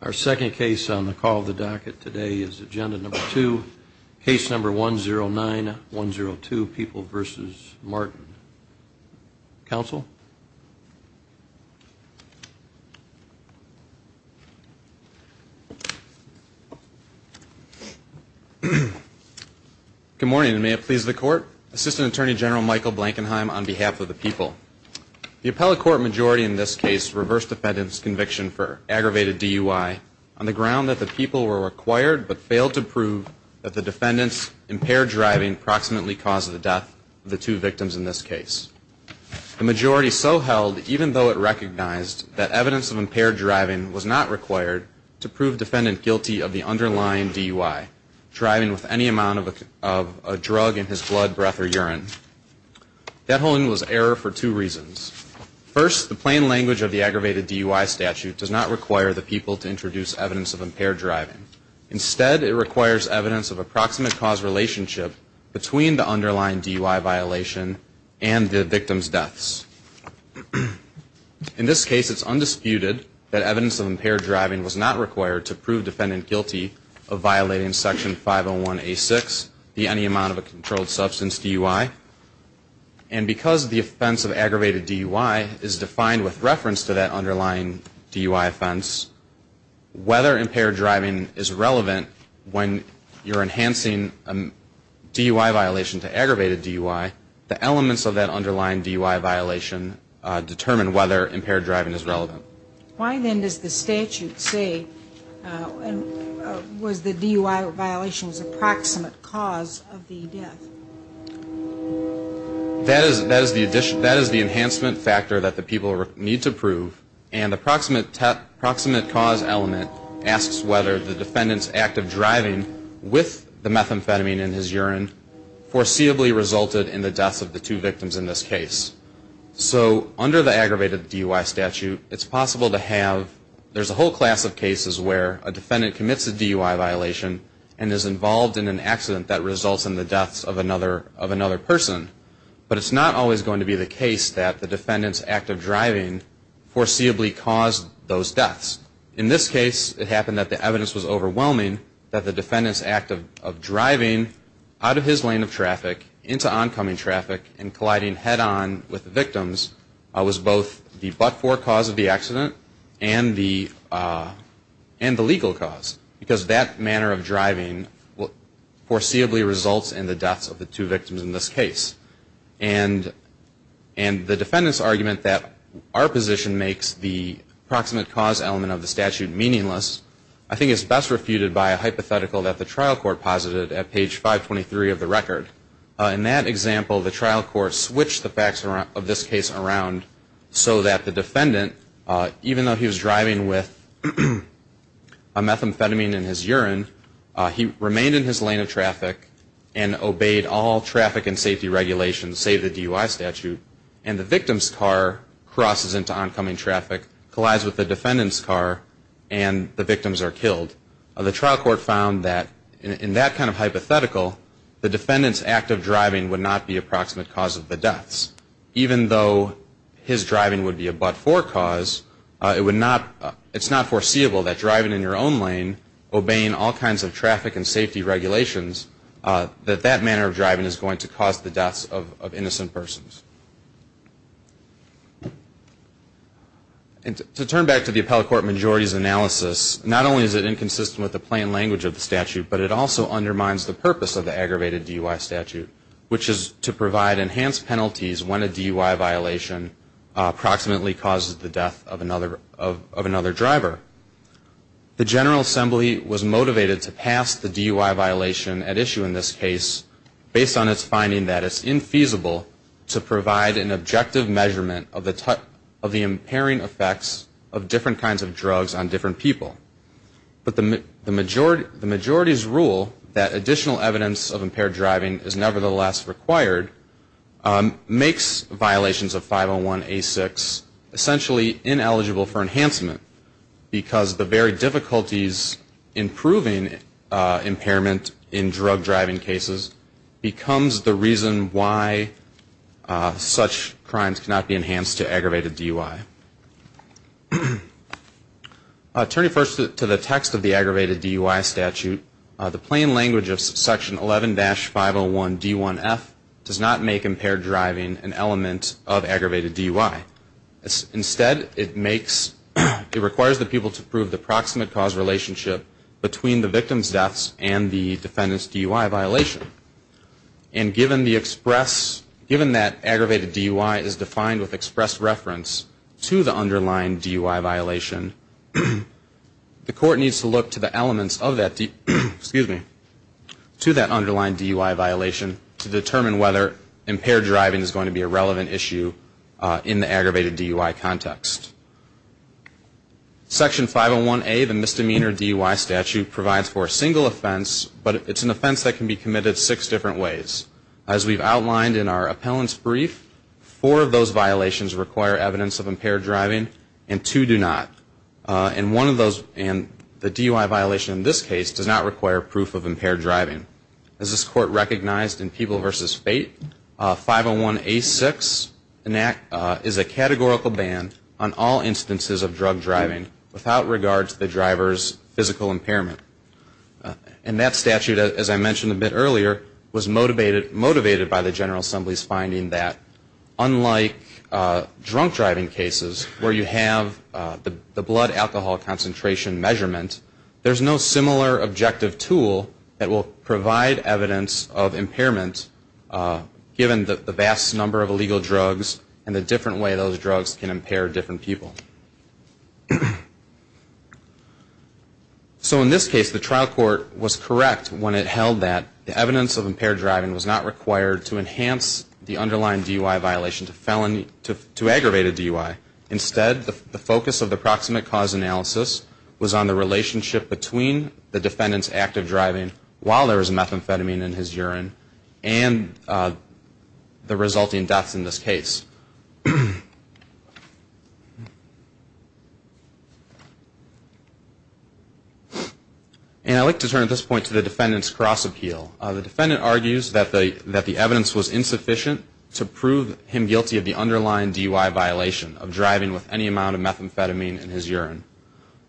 Our second case on the call of the docket today is agenda number two, case number 109-102, People v. Martin. Counsel? Good morning, and may it please the court. Assistant Attorney General Michael Blankenheim on behalf of the people. The appellate court majority in this case reversed defendant's conviction for aggravated DUI on the ground that the people were required but failed to prove that the defendant's impaired driving approximately caused the death of the two victims in this case. The majority so held, even though it recognized that evidence of impaired driving was not required, to prove defendant guilty of the underlying DUI, driving with any amount of a drug in his blood, breath, or urine. That holding was error for two reasons. First, the plain language of the aggravated DUI statute does not require the people to introduce evidence of impaired driving. Instead, it requires evidence of approximate cause relationship between the underlying DUI violation and the victim's deaths. In this case, it's undisputed that evidence of impaired driving was not required to prove defendant guilty of violating Section 501A6, the Any Amount of a Controlled Substance DUI. And because the offense of aggravated DUI is defined with reference to that underlying DUI offense, whether impaired driving is relevant when you're enhancing a DUI violation to aggravated DUI, the elements of that underlying DUI violation determine whether impaired driving is relevant. Why, then, does the statute say, was the DUI violation's approximate cause of the death? That is the enhancement factor that the people need to prove, and the approximate cause element asks whether the defendant's active driving with the methamphetamine in his urine foreseeably resulted in the deaths of the two victims in this case. So, under the aggravated DUI statute, it's possible to have, there's a whole class of cases where a defendant commits a DUI violation and is involved in an accident that results in the deaths of another person. But it's not always going to be the case that the defendant's active driving foreseeably caused those deaths. In this case, it happened that the evidence was overwhelming that the defendant's active driving out of his lane of traffic into oncoming traffic and colliding head-on with the victims was both the but-for cause of the accident and the legal cause. Because that manner of driving foreseeably results in the deaths of the two victims in this case. And the defendant's argument that our position makes the approximate cause element of the statute meaningless, I think is best refuted by a hypothetical that the trial court posited at page 523 of the record. In that example, the trial court switched the facts of this case around so that the defendant, even though he was driving with a methamphetamine in his urine, he remained in his lane of traffic and obeyed all traffic and safety regulations, save the DUI statute. And the victim's car crosses into oncoming traffic, collides with the defendant's car, and the victims are killed. The trial court found that in that kind of hypothetical, the defendant's active driving would not be approximate cause of the deaths. Even though his driving would be a but-for cause, it's not foreseeable that driving in your own lane, obeying all kinds of traffic and safety regulations, that that manner of driving is going to cause the deaths of innocent persons. And to turn back to the appellate court majority's analysis, not only is it inconsistent with the plain language of the statute, but it also undermines the purpose of the aggravated DUI statute, which is to provide enhanced penalties when a DUI violation approximately causes the death of another driver. The General Assembly was motivated to pass the DUI violation at issue in this case based on its finding that it's infeasible to provide an objective measurement of the impairing effects of different kinds of drugs on different people. But the majority's rule that additional evidence of impaired driving is nevertheless required makes violations of 501A6 essentially ineligible for enhancement, because the very difficulties in proving impairment in drug driving cases becomes the reason why such crimes cannot be enhanced to aggravate a DUI. Turning first to the text of the aggravated DUI statute, the plain language of section 11-501D1F does not make impaired driving an element of aggravated DUI. Instead, it makes, it requires the people to prove the proximate cause relationship between the victim's deaths and the defendant's DUI violation. And given the express, given that aggravated DUI is defined with express reference to the underlying DUI violation, the court needs to look to the elements of that, excuse me, to that underlying DUI violation to determine whether impaired driving is going to be a relevant issue in the aggravated DUI context. Section 501A, the misdemeanor DUI statute, provides for a single offense, but it's an offense that can be committed six different ways. As we've outlined in our appellant's brief, four of those violations require evidence of impaired driving, and two do not. And one of those, and the DUI violation in this case, does not require proof of impaired driving. As this court recognized in People v. Fate, 501A6 is a categorical ban on all instances of drug driving without regard to the driver's physical impairment. And that statute, as I mentioned a bit earlier, was motivated by the General Assembly's finding that unlike drunk driving cases where you have the blood alcohol concentration measurement, there's no similar objective tool that will provide evidence of impairment given the vast number of illegal drugs and the different way those drugs can impair different people. So in this case, the trial court was correct when it held that the evidence of impaired driving was not required to enhance the underlying DUI violation to aggravated DUI. Instead, the focus of the proximate cause analysis was on the relationship between the defendant's active driving while there was methamphetamine in his urine and the resulting deaths in this case. And I'd like to turn at this point to the defendant's cross appeal. The defendant argues that the evidence was insufficient to prove him guilty of the underlying DUI violation of driving with any amount of methamphetamine in his urine.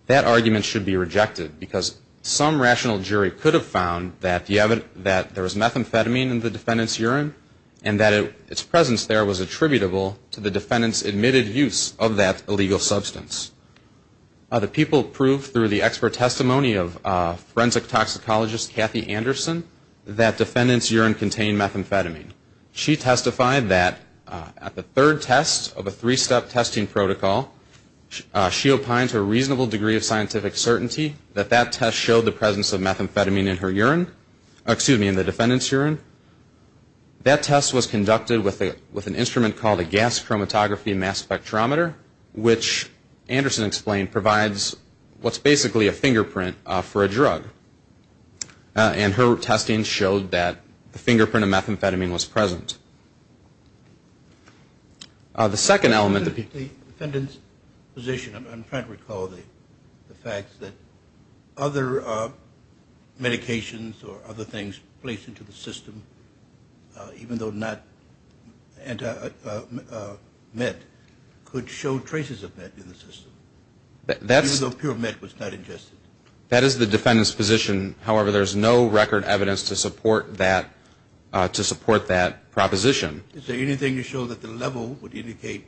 That argument should be rejected because some rational jury could have found that there was methamphetamine in the defendant's urine and that its presence there was attributable to the defendant's admitted use of that illegal substance. The people proved through the expert testimony of forensic toxicologist Kathy Anderson that defendant's urine contained methamphetamine. She testified that at the third test of a three-step testing protocol, she opined to a reasonable degree of scientific certainty that that test showed the presence of methamphetamine in her urine, excuse me, in the defendant's urine. That test was conducted with an instrument called a gas chromatography mass spectrometer, which Anderson explained provides what's basically a fingerprint for a drug. And her testing showed that the fingerprint of methamphetamine was present. The second element that the defendant's position, I'm trying to recall the facts, that other medications or other things placed into the system that could have methamphetamine in their urine. That test showed that the level of methamphetamine in the system, even though not anti-met, could show traces of met in the system, even though pure met was not ingested. That is the defendant's position. However, there's no record evidence to support that proposition. Is there anything to show that the level would indicate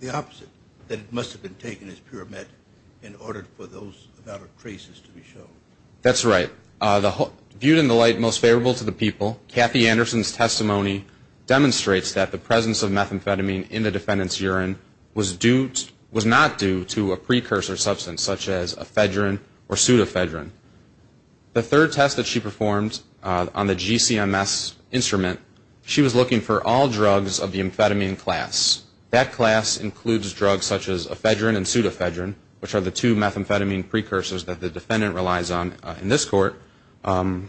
the opposite, that it must have been taken as pure met in order for those amount of traces to be shown? That's right. Viewed in the light most favorable to the people, Kathy Anderson's testimony demonstrates that the presence of methamphetamine in the defendant's urine was not due to a precursor substance, such as ephedrine or pseudephedrine. The third test that she performed on the GCMS instrument, she was looking for all drugs of the amphetamine class. That class includes drugs such as ephedrine and pseudephedrine, which are the two methamphetamine precursors that the defendant relies on. In this court, and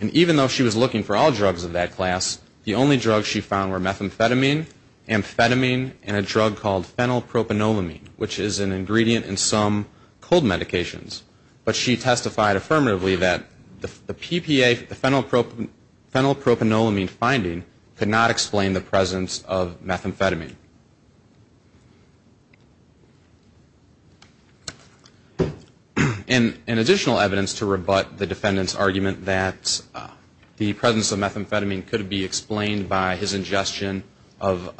even though she was looking for all drugs of that class, the only drugs she found were methamphetamine, amphetamine, and a drug called phenylpropanolamine, which is an ingredient in some cold medications. But she testified affirmatively that the PPA, the phenylpropanolamine finding could not explain the presence of methamphetamine. In additional evidence to rebut the defendant's argument that the presence of methamphetamine could be explained by his ingestion of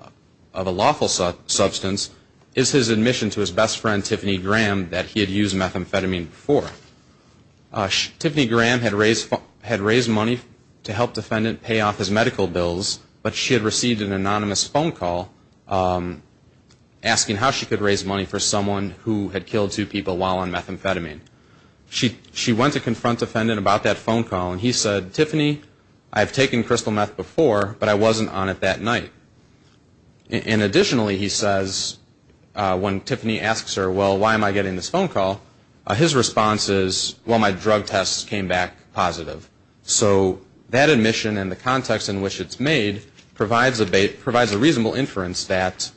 a lawful substance is his admission to his best friend, Tiffany Graham, that he had used methamphetamine before. Tiffany Graham had raised money to help defendant pay off his medical bills, but she had received an anonymous phone call from the defendant. She had asked him how she could raise money for someone who had killed two people while on methamphetamine. She went to confront the defendant about that phone call, and he said, Tiffany, I've taken crystal meth before, but I wasn't on it that night. And additionally, he says, when Tiffany asks her, well, why am I getting this phone call, his response is, well, my drug tests came back positive. So that admission and the context in which it's made provides a reasonable inference that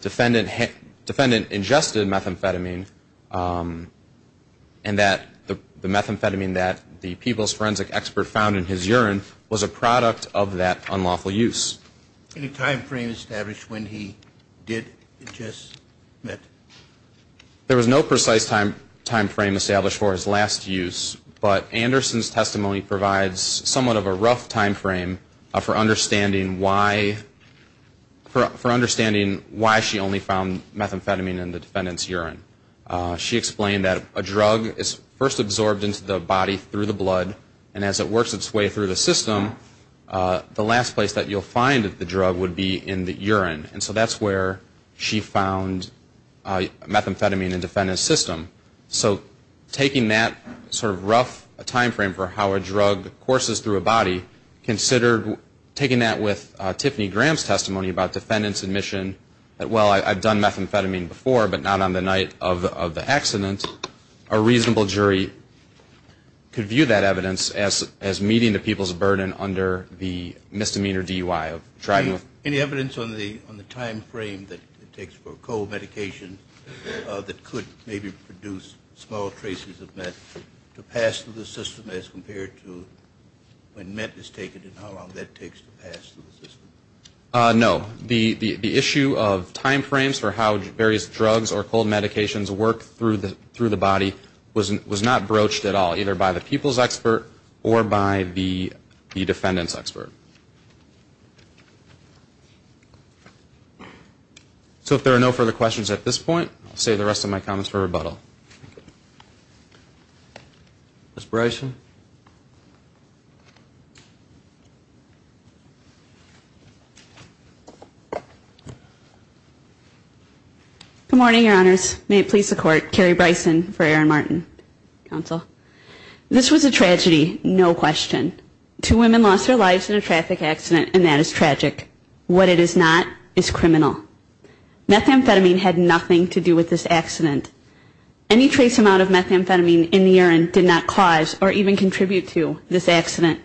Tiffany Graham had used methamphetamine before. And that defendant ingested methamphetamine, and that the methamphetamine that the people's forensic expert found in his urine was a product of that unlawful use. Any time frame established when he did ingest meth? There was no precise time frame established for his last use, but Anderson's testimony provides somewhat of a rough time frame for understanding why, for understanding why she only found methamphetamine in the defendant's urine. She explained that a drug is first absorbed into the body through the blood, and as it works its way through the system, the last place that you'll find the drug would be in the urine. And so that's where she found methamphetamine in the defendant's system. So taking that sort of rough time frame for how a drug courses through a body, taking that with Tiffany Graham's testimony about defendant's admission, well, I've done methamphetamine before, but not on the night of the accident, a reasonable jury could view that evidence as meeting the people's burden under the misdemeanor DUI. Any evidence on the time frame that it takes for cold medication that could maybe produce small traces of meth to pass through the system as compared to when meth is taken and how long that takes to pass through the system? No. The issue of time frames for how various drugs or cold medications work through the body was not broached at all, either by the people's expert or by the defendant's expert. So if there are no further questions at this point, I'll save the rest of my comments for rebuttal. Ms. Bryson? Good morning, Your Honors. May it please the Court, Carrie Bryson for Erin Martin Counsel. This was a tragedy, no question. Two women lost their lives in a traffic accident and that is tragic. What it is not is criminal. Methamphetamine had nothing to do with this accident. Any trace amount of methamphetamine in the urine did not cause or even contribute to this accident.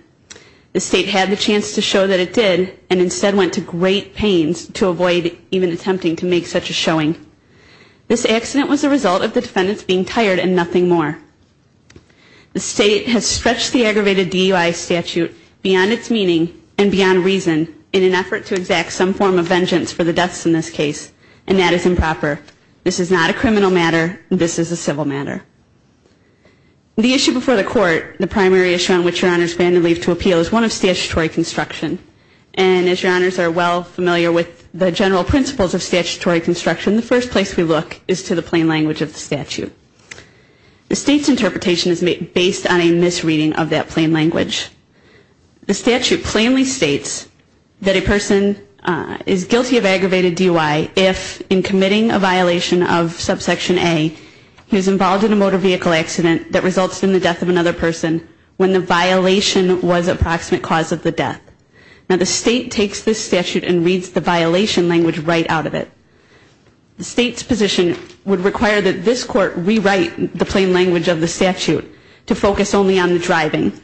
The State had the chance to show that it did and instead went to great pains to avoid even attempting to make such a showing. This accident was a result of the defendants being tired and nothing more. The State has stretched the aggravated DUI statute beyond its meaning and beyond reason in an effort to exact some form of vengeance for the deaths in this case, and that is improper. This is not a criminal matter, this is a civil matter. The issue before the Court, the primary issue on which Your Honors plan to leave to appeal, is one of statutory construction. And as Your Honors are well familiar with the general principles of statutory construction, the first place we look is to the plain language of the statute. The State's interpretation is based on a misreading of that plain language. The statute plainly states that a person is guilty of aggravated DUI if, in committing a violation of subsection A, he was involved in a murder or a robbery. This is not a motor vehicle accident that results in the death of another person when the violation was a proximate cause of the death. Now the State takes this statute and reads the violation language right out of it. The State's position would require that this Court rewrite the plain language of the statute to focus only on the driving.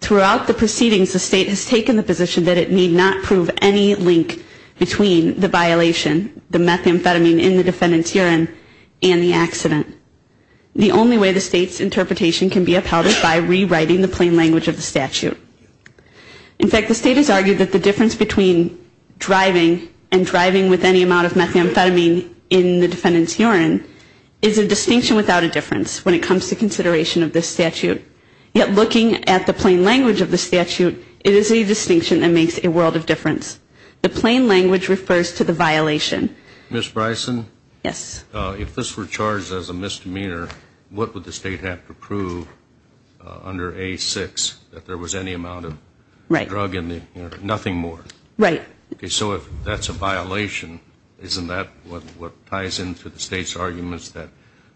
Throughout the proceedings, the State has taken the position that it need not prove any link between the violation, the methamphetamine in the defendant's urine, and the accident. This is the only way the State's interpretation can be upheld by rewriting the plain language of the statute. In fact, the State has argued that the difference between driving and driving with any amount of methamphetamine in the defendant's urine is a distinction without a difference when it comes to consideration of this statute. Yet looking at the plain language of the statute, it is a distinction that makes a world of difference. The plain language refers to the violation. What would the State have to prove under A-6 that there was any amount of drug in the urine? Nothing more. So if that's a violation, isn't that what ties into the State's arguments that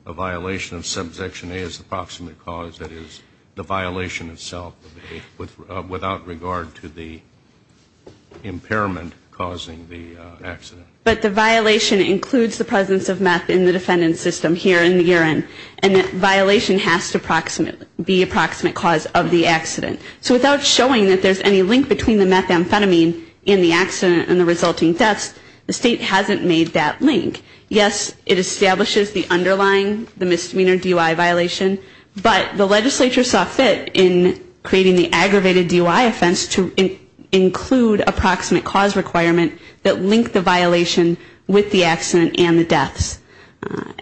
a violation of subsection A is a proximate cause, that is, the violation itself without regard to the impairment causing the accident? But the violation includes the presence of meth in the defendant's system here in the urine. And that violation has to be a proximate cause of the accident. So without showing that there's any link between the methamphetamine and the accident and the resulting deaths, the State hasn't made that link. Yes, it establishes the underlying, the misdemeanor DUI violation, but the legislature saw fit in creating the aggravated DUI offense to include a proximate cause requirement that linked the violation with the accident and the deaths.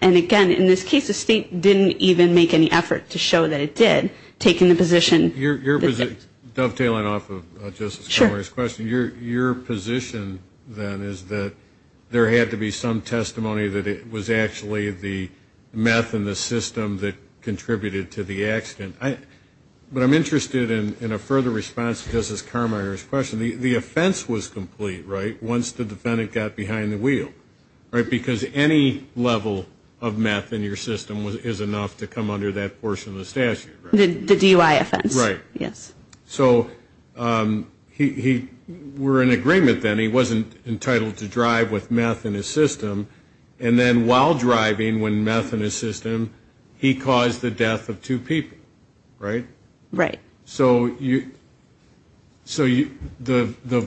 And again, in this case, the State didn't even make any effort to show that it did, taking the position. Your position, dovetailing off of Justice Carmier's question, your position then is that there had to be some testimony that it was actually the meth in the system that contributed to the accident. But I'm interested in a further response to Justice Carmier's question. The offense was complete, right, once the defendant got behind the wheel, right? Because any level of meth in your system is enough to come under that portion of the statute, right? The DUI offense, yes. So we're in agreement then, he wasn't entitled to drive with meth in his system, and then while driving with meth in his system, he caused the death of two people, right? Right. So the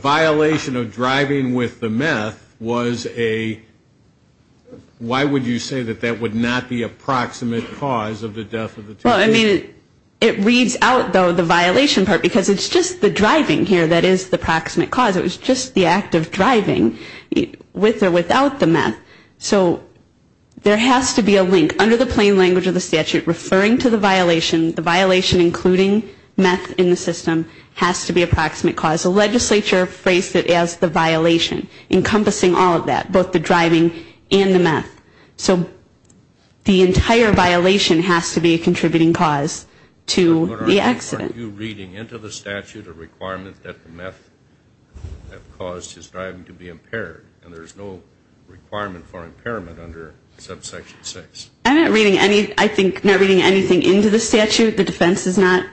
violation of driving with the meth was a, why would you say that that would not be a proximate cause of the death of the two people? Well, I mean, it reads out, though, the violation part, because it's just the driving here that is the proximate cause. It was just the act of driving with or without the meth. So there has to be a link under the plain language of the statute referring to the violation, the violation including meth in the system has to be a proximate cause. The legislature phrased it as the violation, encompassing all of that, both the driving and the meth. So the entire violation has to be a contributing cause to the accident. Are you reading into the statute a requirement that the meth that caused his driving to be impaired, and there's no requirement for impairment under subsection 6? I'm not reading any, I think not reading anything into the statute. The defense is not,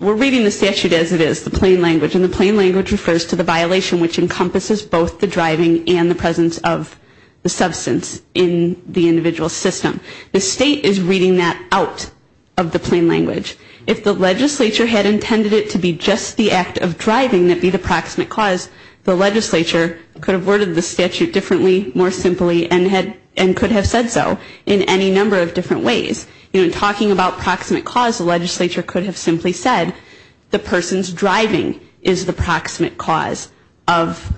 we're reading the statute as it is, the plain language, and the plain language refers to the violation which encompasses both the driving and the presence of the substance in the individual's system. The state is reading that out of the plain language. If the legislature had intended it to be just the act of driving that be the proximate cause, the legislature could have worded the statute differently, more simply, and could have said so in any number of different ways. In talking about proximate cause, the legislature could have simply said the person's driving is the proximate cause of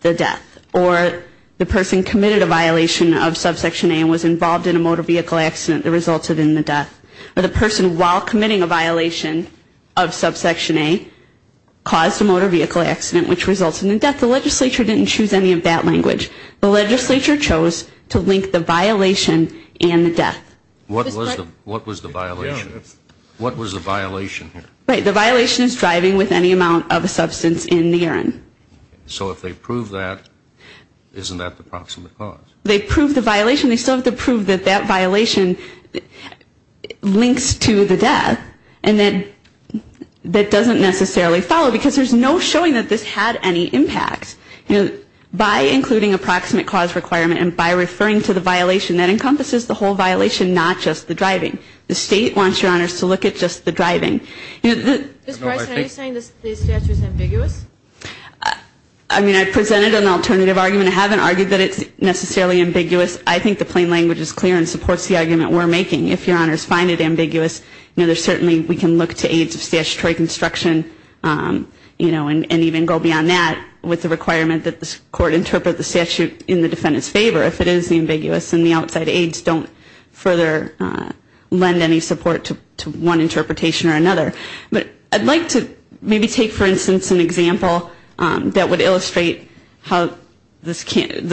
the death. Or the person committed a violation of subsection A and was involved in a motor vehicle accident that resulted in the death. Or the person, while committing a violation of subsection A, caused a motor vehicle accident which resulted in the death. The legislature didn't choose any of that language. The legislature chose to link the violation and the death. What was the violation? Right, the violation is driving with any amount of substance in the urine. So if they prove that, isn't that the proximate cause? They prove the violation, they still have to prove that that violation links to the death, and that doesn't necessarily follow, because there's no showing that this had any impact. By including a proximate cause requirement and by referring to the violation, that encompasses the whole violation, not just the driving. The state wants, Your Honors, to look at just the driving. Ms. Bryson, are you saying the statute is ambiguous? I mean, I presented an alternative argument. I haven't argued that it's necessarily ambiguous. I think the plain language is clear and supports the argument we're making. If Your Honors find it ambiguous, certainly we can look to aides of statutory construction and even go beyond that with the requirement that the court interpret the statute in the defendant's favor. If it is ambiguous and the outside aides don't further lend any support to one interpretation or another. But I'd like to maybe take, for instance, an example that would illustrate how the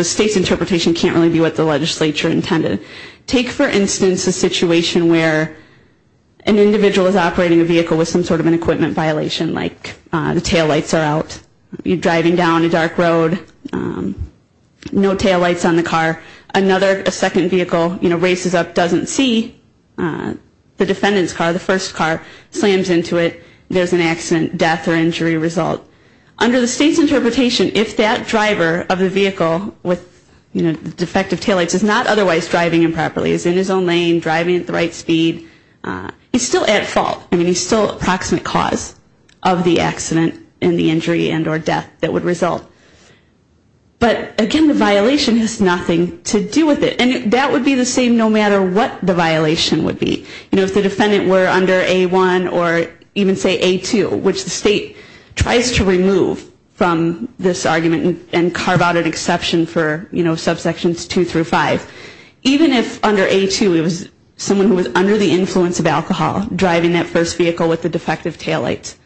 state's interpretation can't really be what the legislature intended. Take, for instance, a situation where an individual is operating a vehicle with some sort of an equipment violation, like the taillights are out, you're driving down a dark road, no taillights on the car. Another, a second vehicle races up, doesn't see the defendant's car, the first car, slams into it, there's an accident, death, or injury result. Under the state's interpretation, if that driver of the vehicle with defective taillights is not otherwise driving the vehicle, the state's interpretation is that the driver of the vehicle with defective taillights is not otherwise driving the vehicle. So the defendant is in his own lane, driving at the right speed. He's still at fault. I mean, he's still an approximate cause of the accident and the injury and or death that would result. But, again, the violation has nothing to do with it. And that would be the same, no matter what the violation would be. You know, if the defendant were under A-1 or even say A-2, which the state tries to remove from this argument and carve out an exception for, you know, subsections 2 through 5. Even if under A-2 it was someone who was under the influence of alcohol driving that first vehicle with the defective taillights.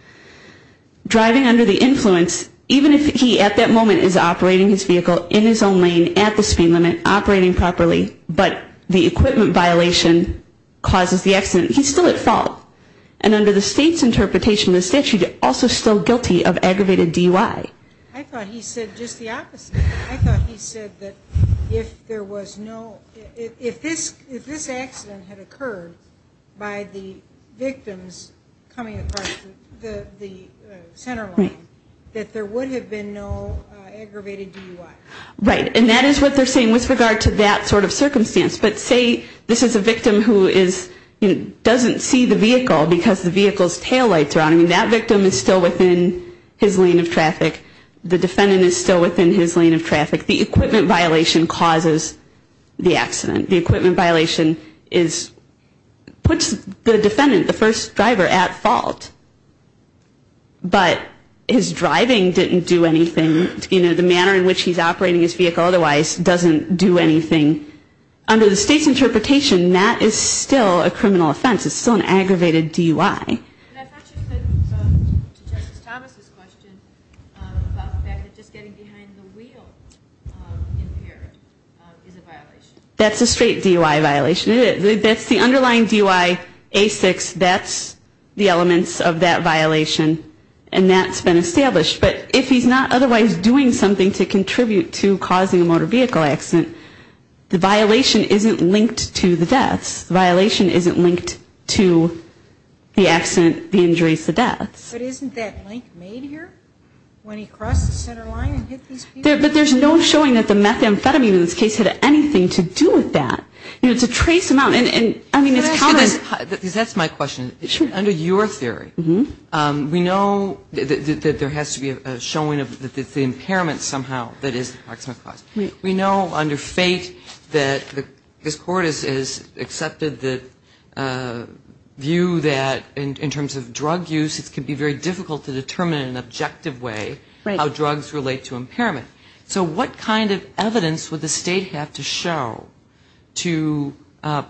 Driving under the influence, even if he at that moment is operating his vehicle in his own lane at the speed limit, operating properly, but the equipment violation causes the accident, he's still at fault. And under the state's interpretation of the statute, also still guilty of aggravated DUI. I thought he said just the opposite. I thought he said that if there was no, if this accident had occurred by the victims coming across the center line, that there would have been no aggravated DUI. Right. And that is what they're saying with regard to that sort of circumstance. But say this is a victim who is, doesn't see the vehicle because the vehicle's taillights are on. I mean, that victim is still within his lane of traffic. The defendant is still within his lane of traffic. The equipment violation causes the accident. The equipment violation is, puts the defendant, the first driver, at fault. But his driving didn't do anything, you know, the manner in which he's operating his vehicle otherwise doesn't do anything. Under the state's interpretation, that is still a criminal offense. It's still an aggravated DUI. So to Justice Thomas' question about the fact that just getting behind the wheel impaired is a violation. That's a straight DUI violation. That's the underlying DUI, A6, that's the elements of that violation. And that's been established. But if he's not otherwise doing something to contribute to causing a motor vehicle accident, the violation isn't linked to the deaths. The violation isn't linked to the accident, the injuries, the deaths. But isn't that link made here? When he crossed the center line and hit these people? But there's no showing that the methamphetamine in this case had anything to do with that. You know, to trace them out, and, I mean, it's common. That's my question. Under your theory, we know that there has to be a showing of the impairment somehow that is the proximate cause. We know under fate that this Court has accepted the view that in terms of drug use, it can be very difficult to determine in an objective way how drugs relate to impairment. So what kind of evidence would the state have to show to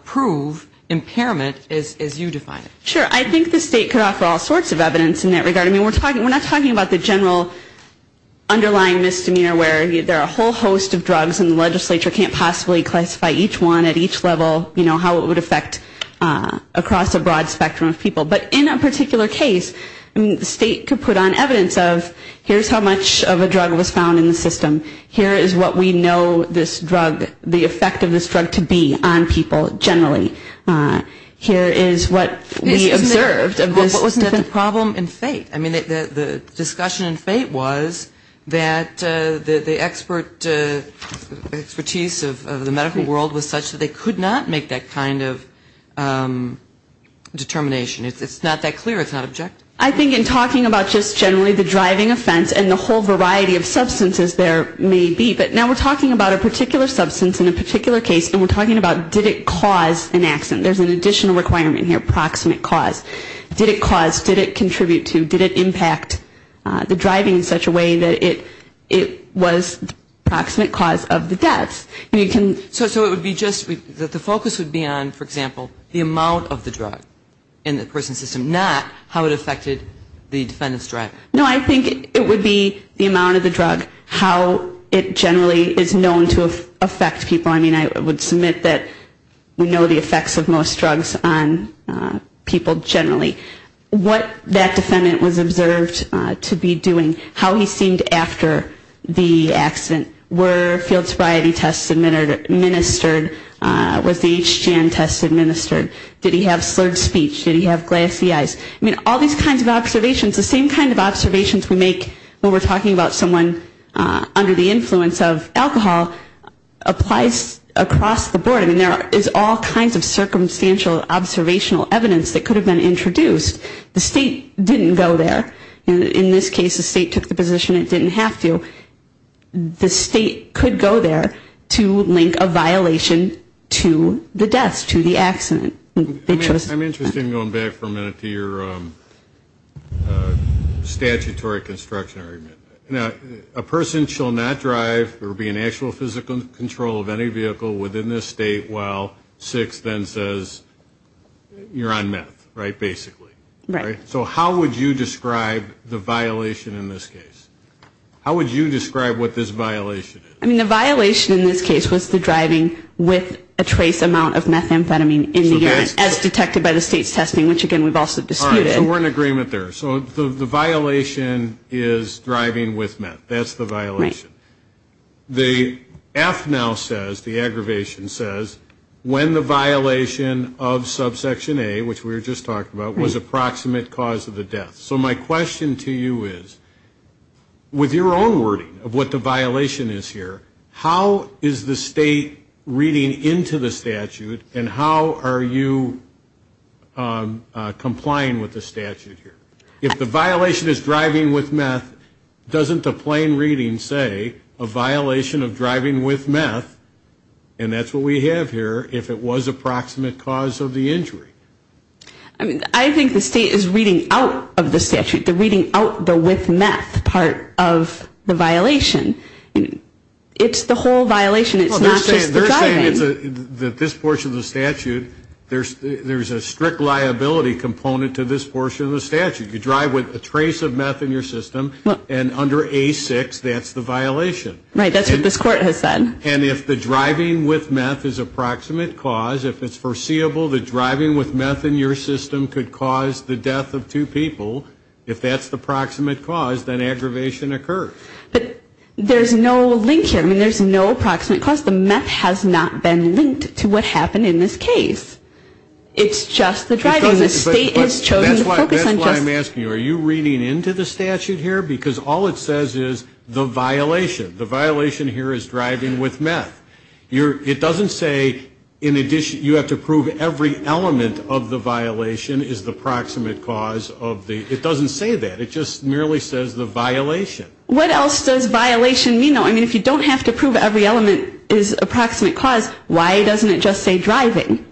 prove impairment as you define it? Sure. I think the state could offer all sorts of evidence in that regard. I mean, we're not talking about the general underlying misdemeanor where there are a whole host of drugs and the legislature can't possibly classify each one at each level, you know, how it would affect across a broad spectrum of people. But in a particular case, the state could put on evidence of here's how much of a drug was found in the system. Here is what we know this drug, the effect of this drug to be on people generally. Here is what we observed of this. Isn't that the problem in fate? I mean, the discussion in fate was that the expert expertise of the medical world was such that they could not make that kind of determination. It's not that clear. It's not objective. I think in talking about just generally the driving offense and the whole variety of substances there may be, but now we're talking about a particular substance in a particular case, and we're talking about did it cause impairment. There's an additional requirement here, proximate cause. Did it cause, did it contribute to, did it impact the driving in such a way that it was the proximate cause of the deaths? So it would be just, the focus would be on, for example, the amount of the drug in the person's system, not how it affected the defendant's driving. No, I think it would be the amount of the drug, how it generally is known to affect people. I mean, I would submit that we know the effects of most drugs on people generally. What that defendant was observed to be doing, how he seemed after the accident. Were field sobriety tests administered, was the HGM test administered? Did he have slurred speech? Did he have glassy eyes? I mean, all these kinds of observations, the same kind of observations we make when we're talking about someone under the influence of alcohol applies to the drug. Across the board, I mean, there is all kinds of circumstantial observational evidence that could have been introduced. The state didn't go there. In this case, the state took the position it didn't have to. The state could go there to link a violation to the deaths, to the accident. I'm interested in going back for a minute to your statutory construction argument. A person shall not drive or be in actual physical control of any vehicle within this state while 6 then says you're on meth, right, basically. So how would you describe the violation in this case? I mean, the violation in this case was the driving with a trace amount of methamphetamine in the urine, as detected by the state's testing, which again, we've also disputed. So we're in agreement there. So the violation is driving with meth. That's the violation. The F now says, the aggravation says, when the violation of subsection A, which we were just talking about, was approximate cause of the death. So my question to you is, with your own wording of what the violation is here, how is the state reading into the statute and how are you complying with the statute? If the violation is driving with meth, doesn't the plain reading say a violation of driving with meth, and that's what we have here, if it was approximate cause of the injury? I think the state is reading out of the statute. They're reading out the with meth part of the violation. It's the whole violation. It's not just the driving. They're saying that this portion of the statute, there's a strict liability component to this portion of the statute. You drive with a trace of meth in your system, and under A6, that's the violation. Right, that's what this court has said. And if the driving with meth is approximate cause, if it's foreseeable that driving with meth in your system could cause the death of two people, if that's the approximate cause, then aggravation occurs. But there's no link here. I mean, there's no approximate cause. The meth has not been linked to what happened in this case. It's just the driving. The state has chosen to focus on just... That's why I'm asking you, are you reading into the statute here? Because all it says is the violation. The violation here is driving with meth. It doesn't say in addition, you have to prove every element of the violation is the approximate cause of the, it doesn't say that. It just merely says the violation. What else does violation mean? I mean, if you don't have to prove every element is approximate cause, why doesn't it just say driving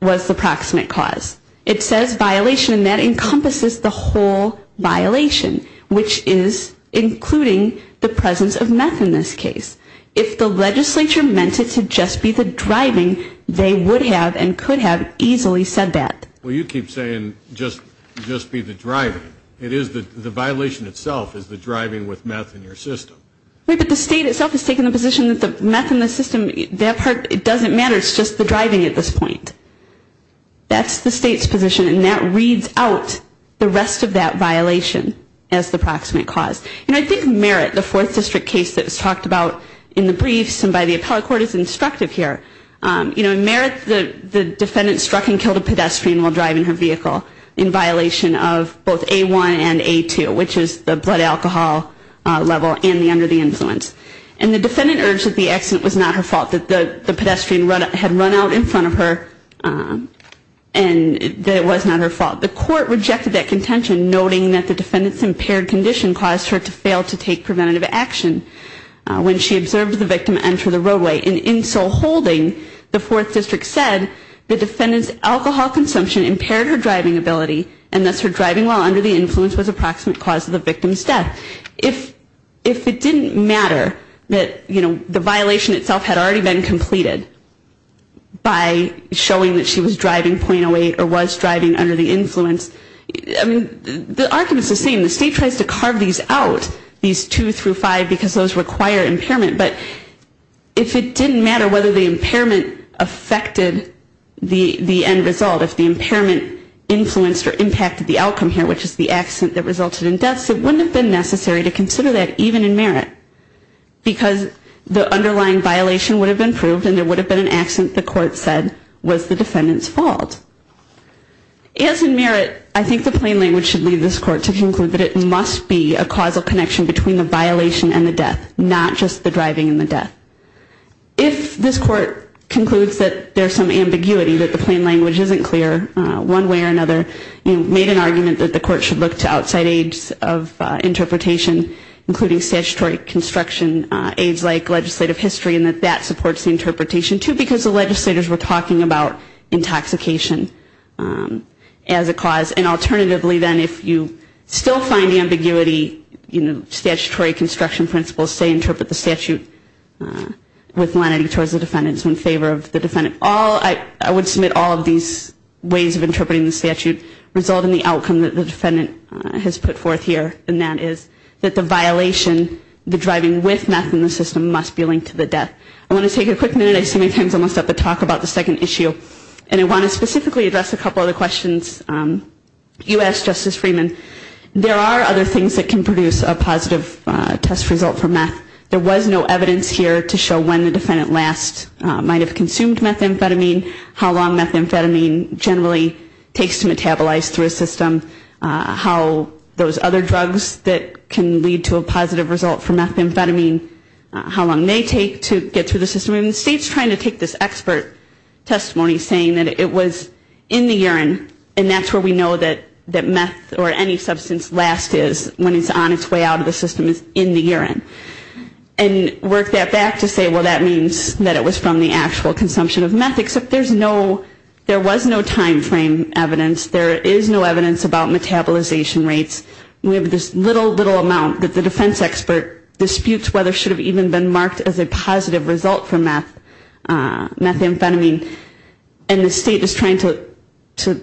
was the approximate cause? It says violation, and that encompasses the whole violation, which is including the presence of meth in this case. If the legislature meant it to just be the driving, they would have and could have easily said that. Well, you keep saying just be the driving. It is the, the violation itself is the driving with meth in your system. Wait, but the state itself has taken the position that the meth in the system, that part, it doesn't matter, it's just the driving at this point. That's the state's position, and that reads out the rest of that violation as the approximate cause. And I think Merritt, the Fourth District case that was talked about in the briefs and by the appellate court is instructive here. You know, in Merritt, the defendant struck and killed a pedestrian while driving her vehicle in violation of both A1 and A2, which is the blood alcohol level and the under the influence. And the defendant urged that the accident was not her fault, that the pedestrian had run out in front of her and that it was not her fault. The court rejected that contention, noting that the defendant's impaired condition caused her to fail to take preventative action when she observed the victim enter the roadway. And in so holding, the Fourth District said the defendant's alcohol consumption impaired her driving ability, and thus her driving while under the influence was approximate cause of the victim's death. If, if it didn't matter that, you know, the violation itself had already been completed by showing that she was driving .08 or was driving under the influence, I mean, the argument is the same. The state tries to carve these out, these two through five, because those require impairment. But if it didn't matter whether the impairment affected the end result, if the impairment influenced or impacted the outcome here, which is the accident that resulted in death, it wouldn't have been necessary to consider that even in Merritt. Because the underlying violation would have been proved and there would have been an accident the court said was the defendant's fault. As in Merritt, I think the plain language should lead this court to conclude that it must be a causal connection between the violation and the death, not just the driving. If this court concludes that there's some ambiguity, that the plain language isn't clear, one way or another, you know, made an argument that the court should look to outside aids of interpretation, including statutory construction, aids like legislative history, and that that supports the interpretation, too, because the legislators were talking about intoxication as a cause. And alternatively, then, if you still find ambiguity, you know, statutory construction principles say interpret the statute differently. With lenity towards the defendants, in favor of the defendant. All, I would submit all of these ways of interpreting the statute result in the outcome that the defendant has put forth here, and that is that the violation, the driving with meth in the system must be linked to the death. I want to take a quick minute, I see my time's almost up, to talk about the second issue. And I want to specifically address a couple of the questions you asked, Justice Freeman. There are other things that can produce a positive test result for meth. There was no evidence here to show when the defendant last might have consumed methamphetamine, how long methamphetamine generally takes to metabolize through a system, how those other drugs that can lead to a positive result for methamphetamine, how long they take to get through the system. I mean, the state's trying to take this expert testimony, saying that it was in the urine, and that's where we know that meth, or any drug, was in the urine. And that any substance last is, when it's on its way out of the system, is in the urine. And work that back to say, well, that means that it was from the actual consumption of meth, except there's no, there was no timeframe evidence, there is no evidence about metabolization rates. We have this little, little amount that the defense expert disputes whether it should have even been marked as a positive result for meth, methamphetamine. And the state is trying to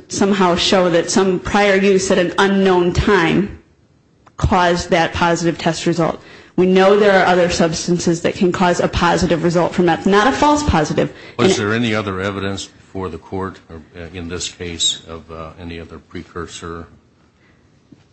somehow show that some prior use at an unknown time caused that positive test result. We know there are other substances that can cause a positive result for meth, not a false positive. Was there any other evidence before the court, in this case, of any other precursor?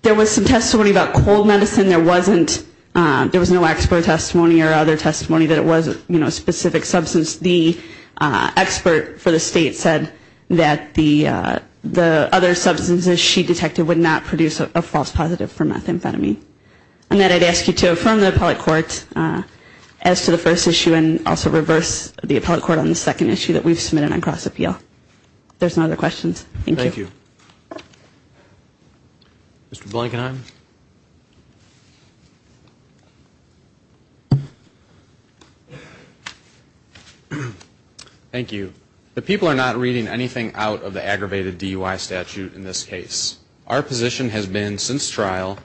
There was some testimony about cold medicine, there wasn't, there was no expert testimony or other testimony that it was a specific substance. The expert for the state said that the other substances she detected would not produce a false positive for methamphetamine. And that I'd ask you to affirm the appellate court as to the first issue, and also reverse the appellate court on the second issue that we've submitted on cross-appeal. If there's no other questions, thank you. Mr. Blankenheim. Thank you. The people are not reading anything out of the aggravated DUI statute in this case. Our position has been since trial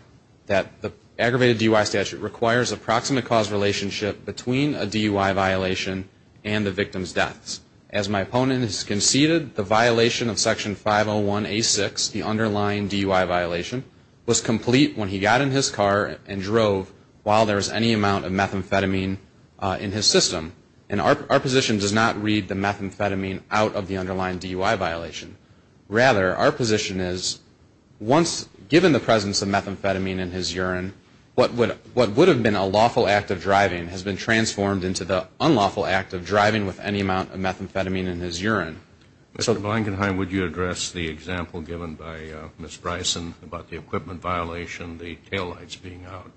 that the aggravated DUI statute requires a proximate cause relationship between a DUI violation and the victim's deaths. As my opponent has conceded, the violation of Section 501A6, the underlying DUI violation, was complete when he got in his car and drove while there was any amount of methamphetamine in his system. And our position does not read the methamphetamine out of the underlying DUI violation. Rather, our position is once, given the presence of methamphetamine in his urine, what would have been a lawful act of driving has been transformed into the unlawful act of driving with any amount of methamphetamine in his urine. Mr. Blankenheim, would you address the example given by Ms. Bryson about the equipment violation, the taillights being out,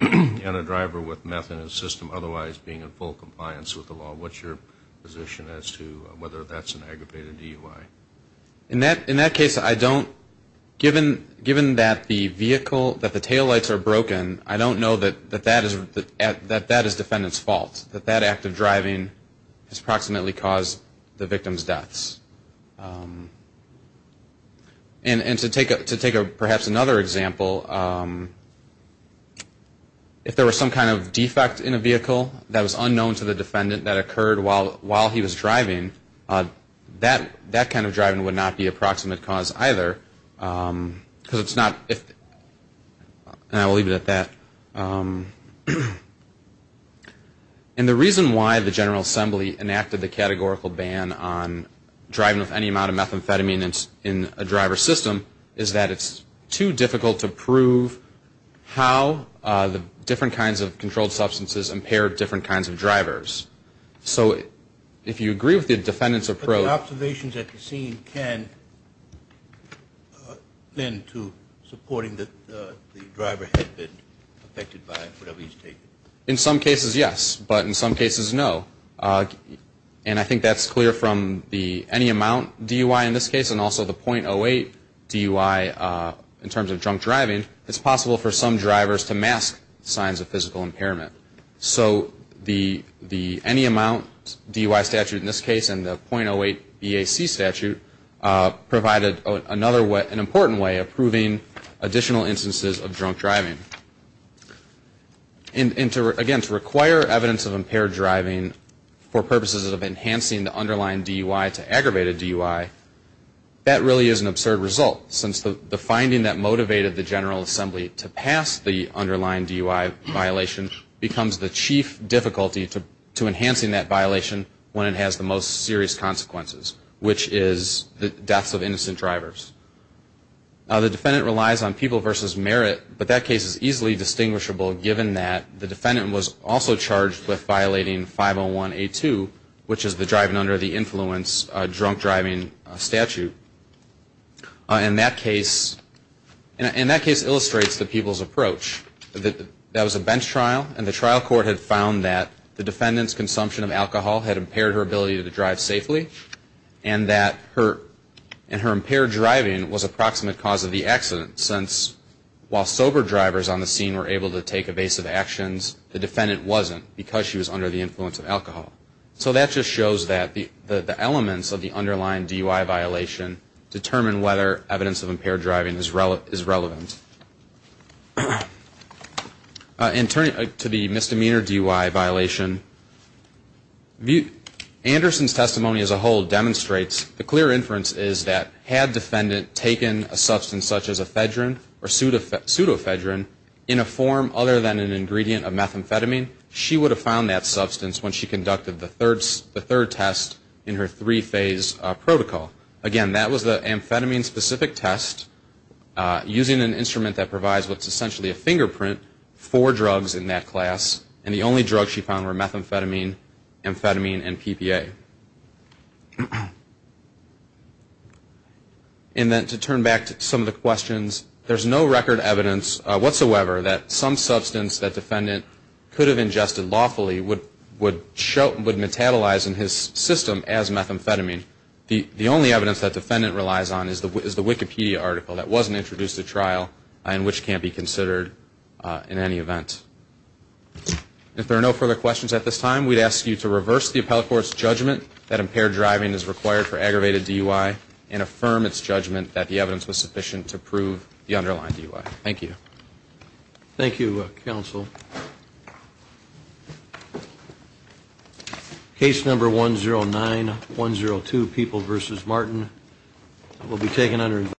and a driver with meth in his system otherwise being in full compliance with the DUI? What's your position as to whether that's an aggravated DUI? In that case, I don't, given that the vehicle, that the taillights are broken, I don't know that that is defendant's fault, that that act of driving has proximately caused the victim's deaths. And to take perhaps another example, if there was some kind of defect in a vehicle that was unknown to the defendant, that could have caused the victim's death. If there was some kind of defect in a vehicle that was unknown to the defendant that occurred while he was driving, that kind of driving would not be a proximate cause either, because it's not, and I will leave it at that. And the reason why the General Assembly enacted the categorical ban on driving with any amount of methamphetamine in a driver's system is that it's too difficult to prove how the different kinds of controlled substances impair different kinds of drivers. So if you agree with the defendant's approach... But the observations at the scene can lend to supporting that the driver had been affected by whatever he's taken? In some cases, yes, but in some cases, no. And I think that's clear from the any amount DUI in this case, and also the .08 DUI in terms of drunk driving, it's possible for some drivers to mask signs of physical impairment. So the any amount DUI statute in this case, and the .08 BAC statute, provided another way, an important way of proving additional instances of drunk driving. And again, to require evidence of impaired driving for purposes of enhancing the underlying DUI to aggravate a DUI, that really is an absurd result, since the finding that motivated the General Assembly to pass the underlying DUI violation was that the DUI was not impaired. And so that becomes the chief difficulty to enhancing that violation when it has the most serious consequences, which is the deaths of innocent drivers. The defendant relies on people versus merit, but that case is easily distinguishable, given that the defendant was also charged with violating 501A2, which is the driving under the influence drunk driving statute. And that case illustrates the people's approach. That was a bench trial, and the trial court had found that the defendant's consumption of alcohol had impaired her ability to drive safely, and that her impaired driving was a proximate cause of the accident, since while sober drivers on the scene were able to take evasive actions, the defendant wasn't, because she was under the influence of alcohol. So that just shows that the elements of the underlying DUI violation determine whether evidence of impaired driving is relevant. And turning to the misdemeanor DUI violation, Anderson's testimony as a whole demonstrates the clear inference is that had defendant taken a substance such as ephedrine or pseudephedrine in a form other than an ingredient of methamphetamine, she would have found that substance when she conducted the third test in her three-phase protocol. Again, that was the amphetamine-specific test, using an instrument that provides what's essentially a fingerprint. Four drugs in that class, and the only drugs she found were methamphetamine, amphetamine, and PPA. And then to turn back to some of the questions, there's no record evidence whatsoever that some substance that defendant could have ingested lawfully would metabolize in his system as methamphetamine. The only evidence that defendant relies on is the Wikipedia article that wasn't found in the case, and that's the only evidence that can be considered in any event. If there are no further questions at this time, we'd ask you to reverse the appellate court's judgment that impaired driving is required for aggravated DUI, and affirm its judgment that the evidence was sufficient to prove the underlying DUI. Thank you. Thank you, counsel. Case number 109102, People v. Martin, will be taken under investigation.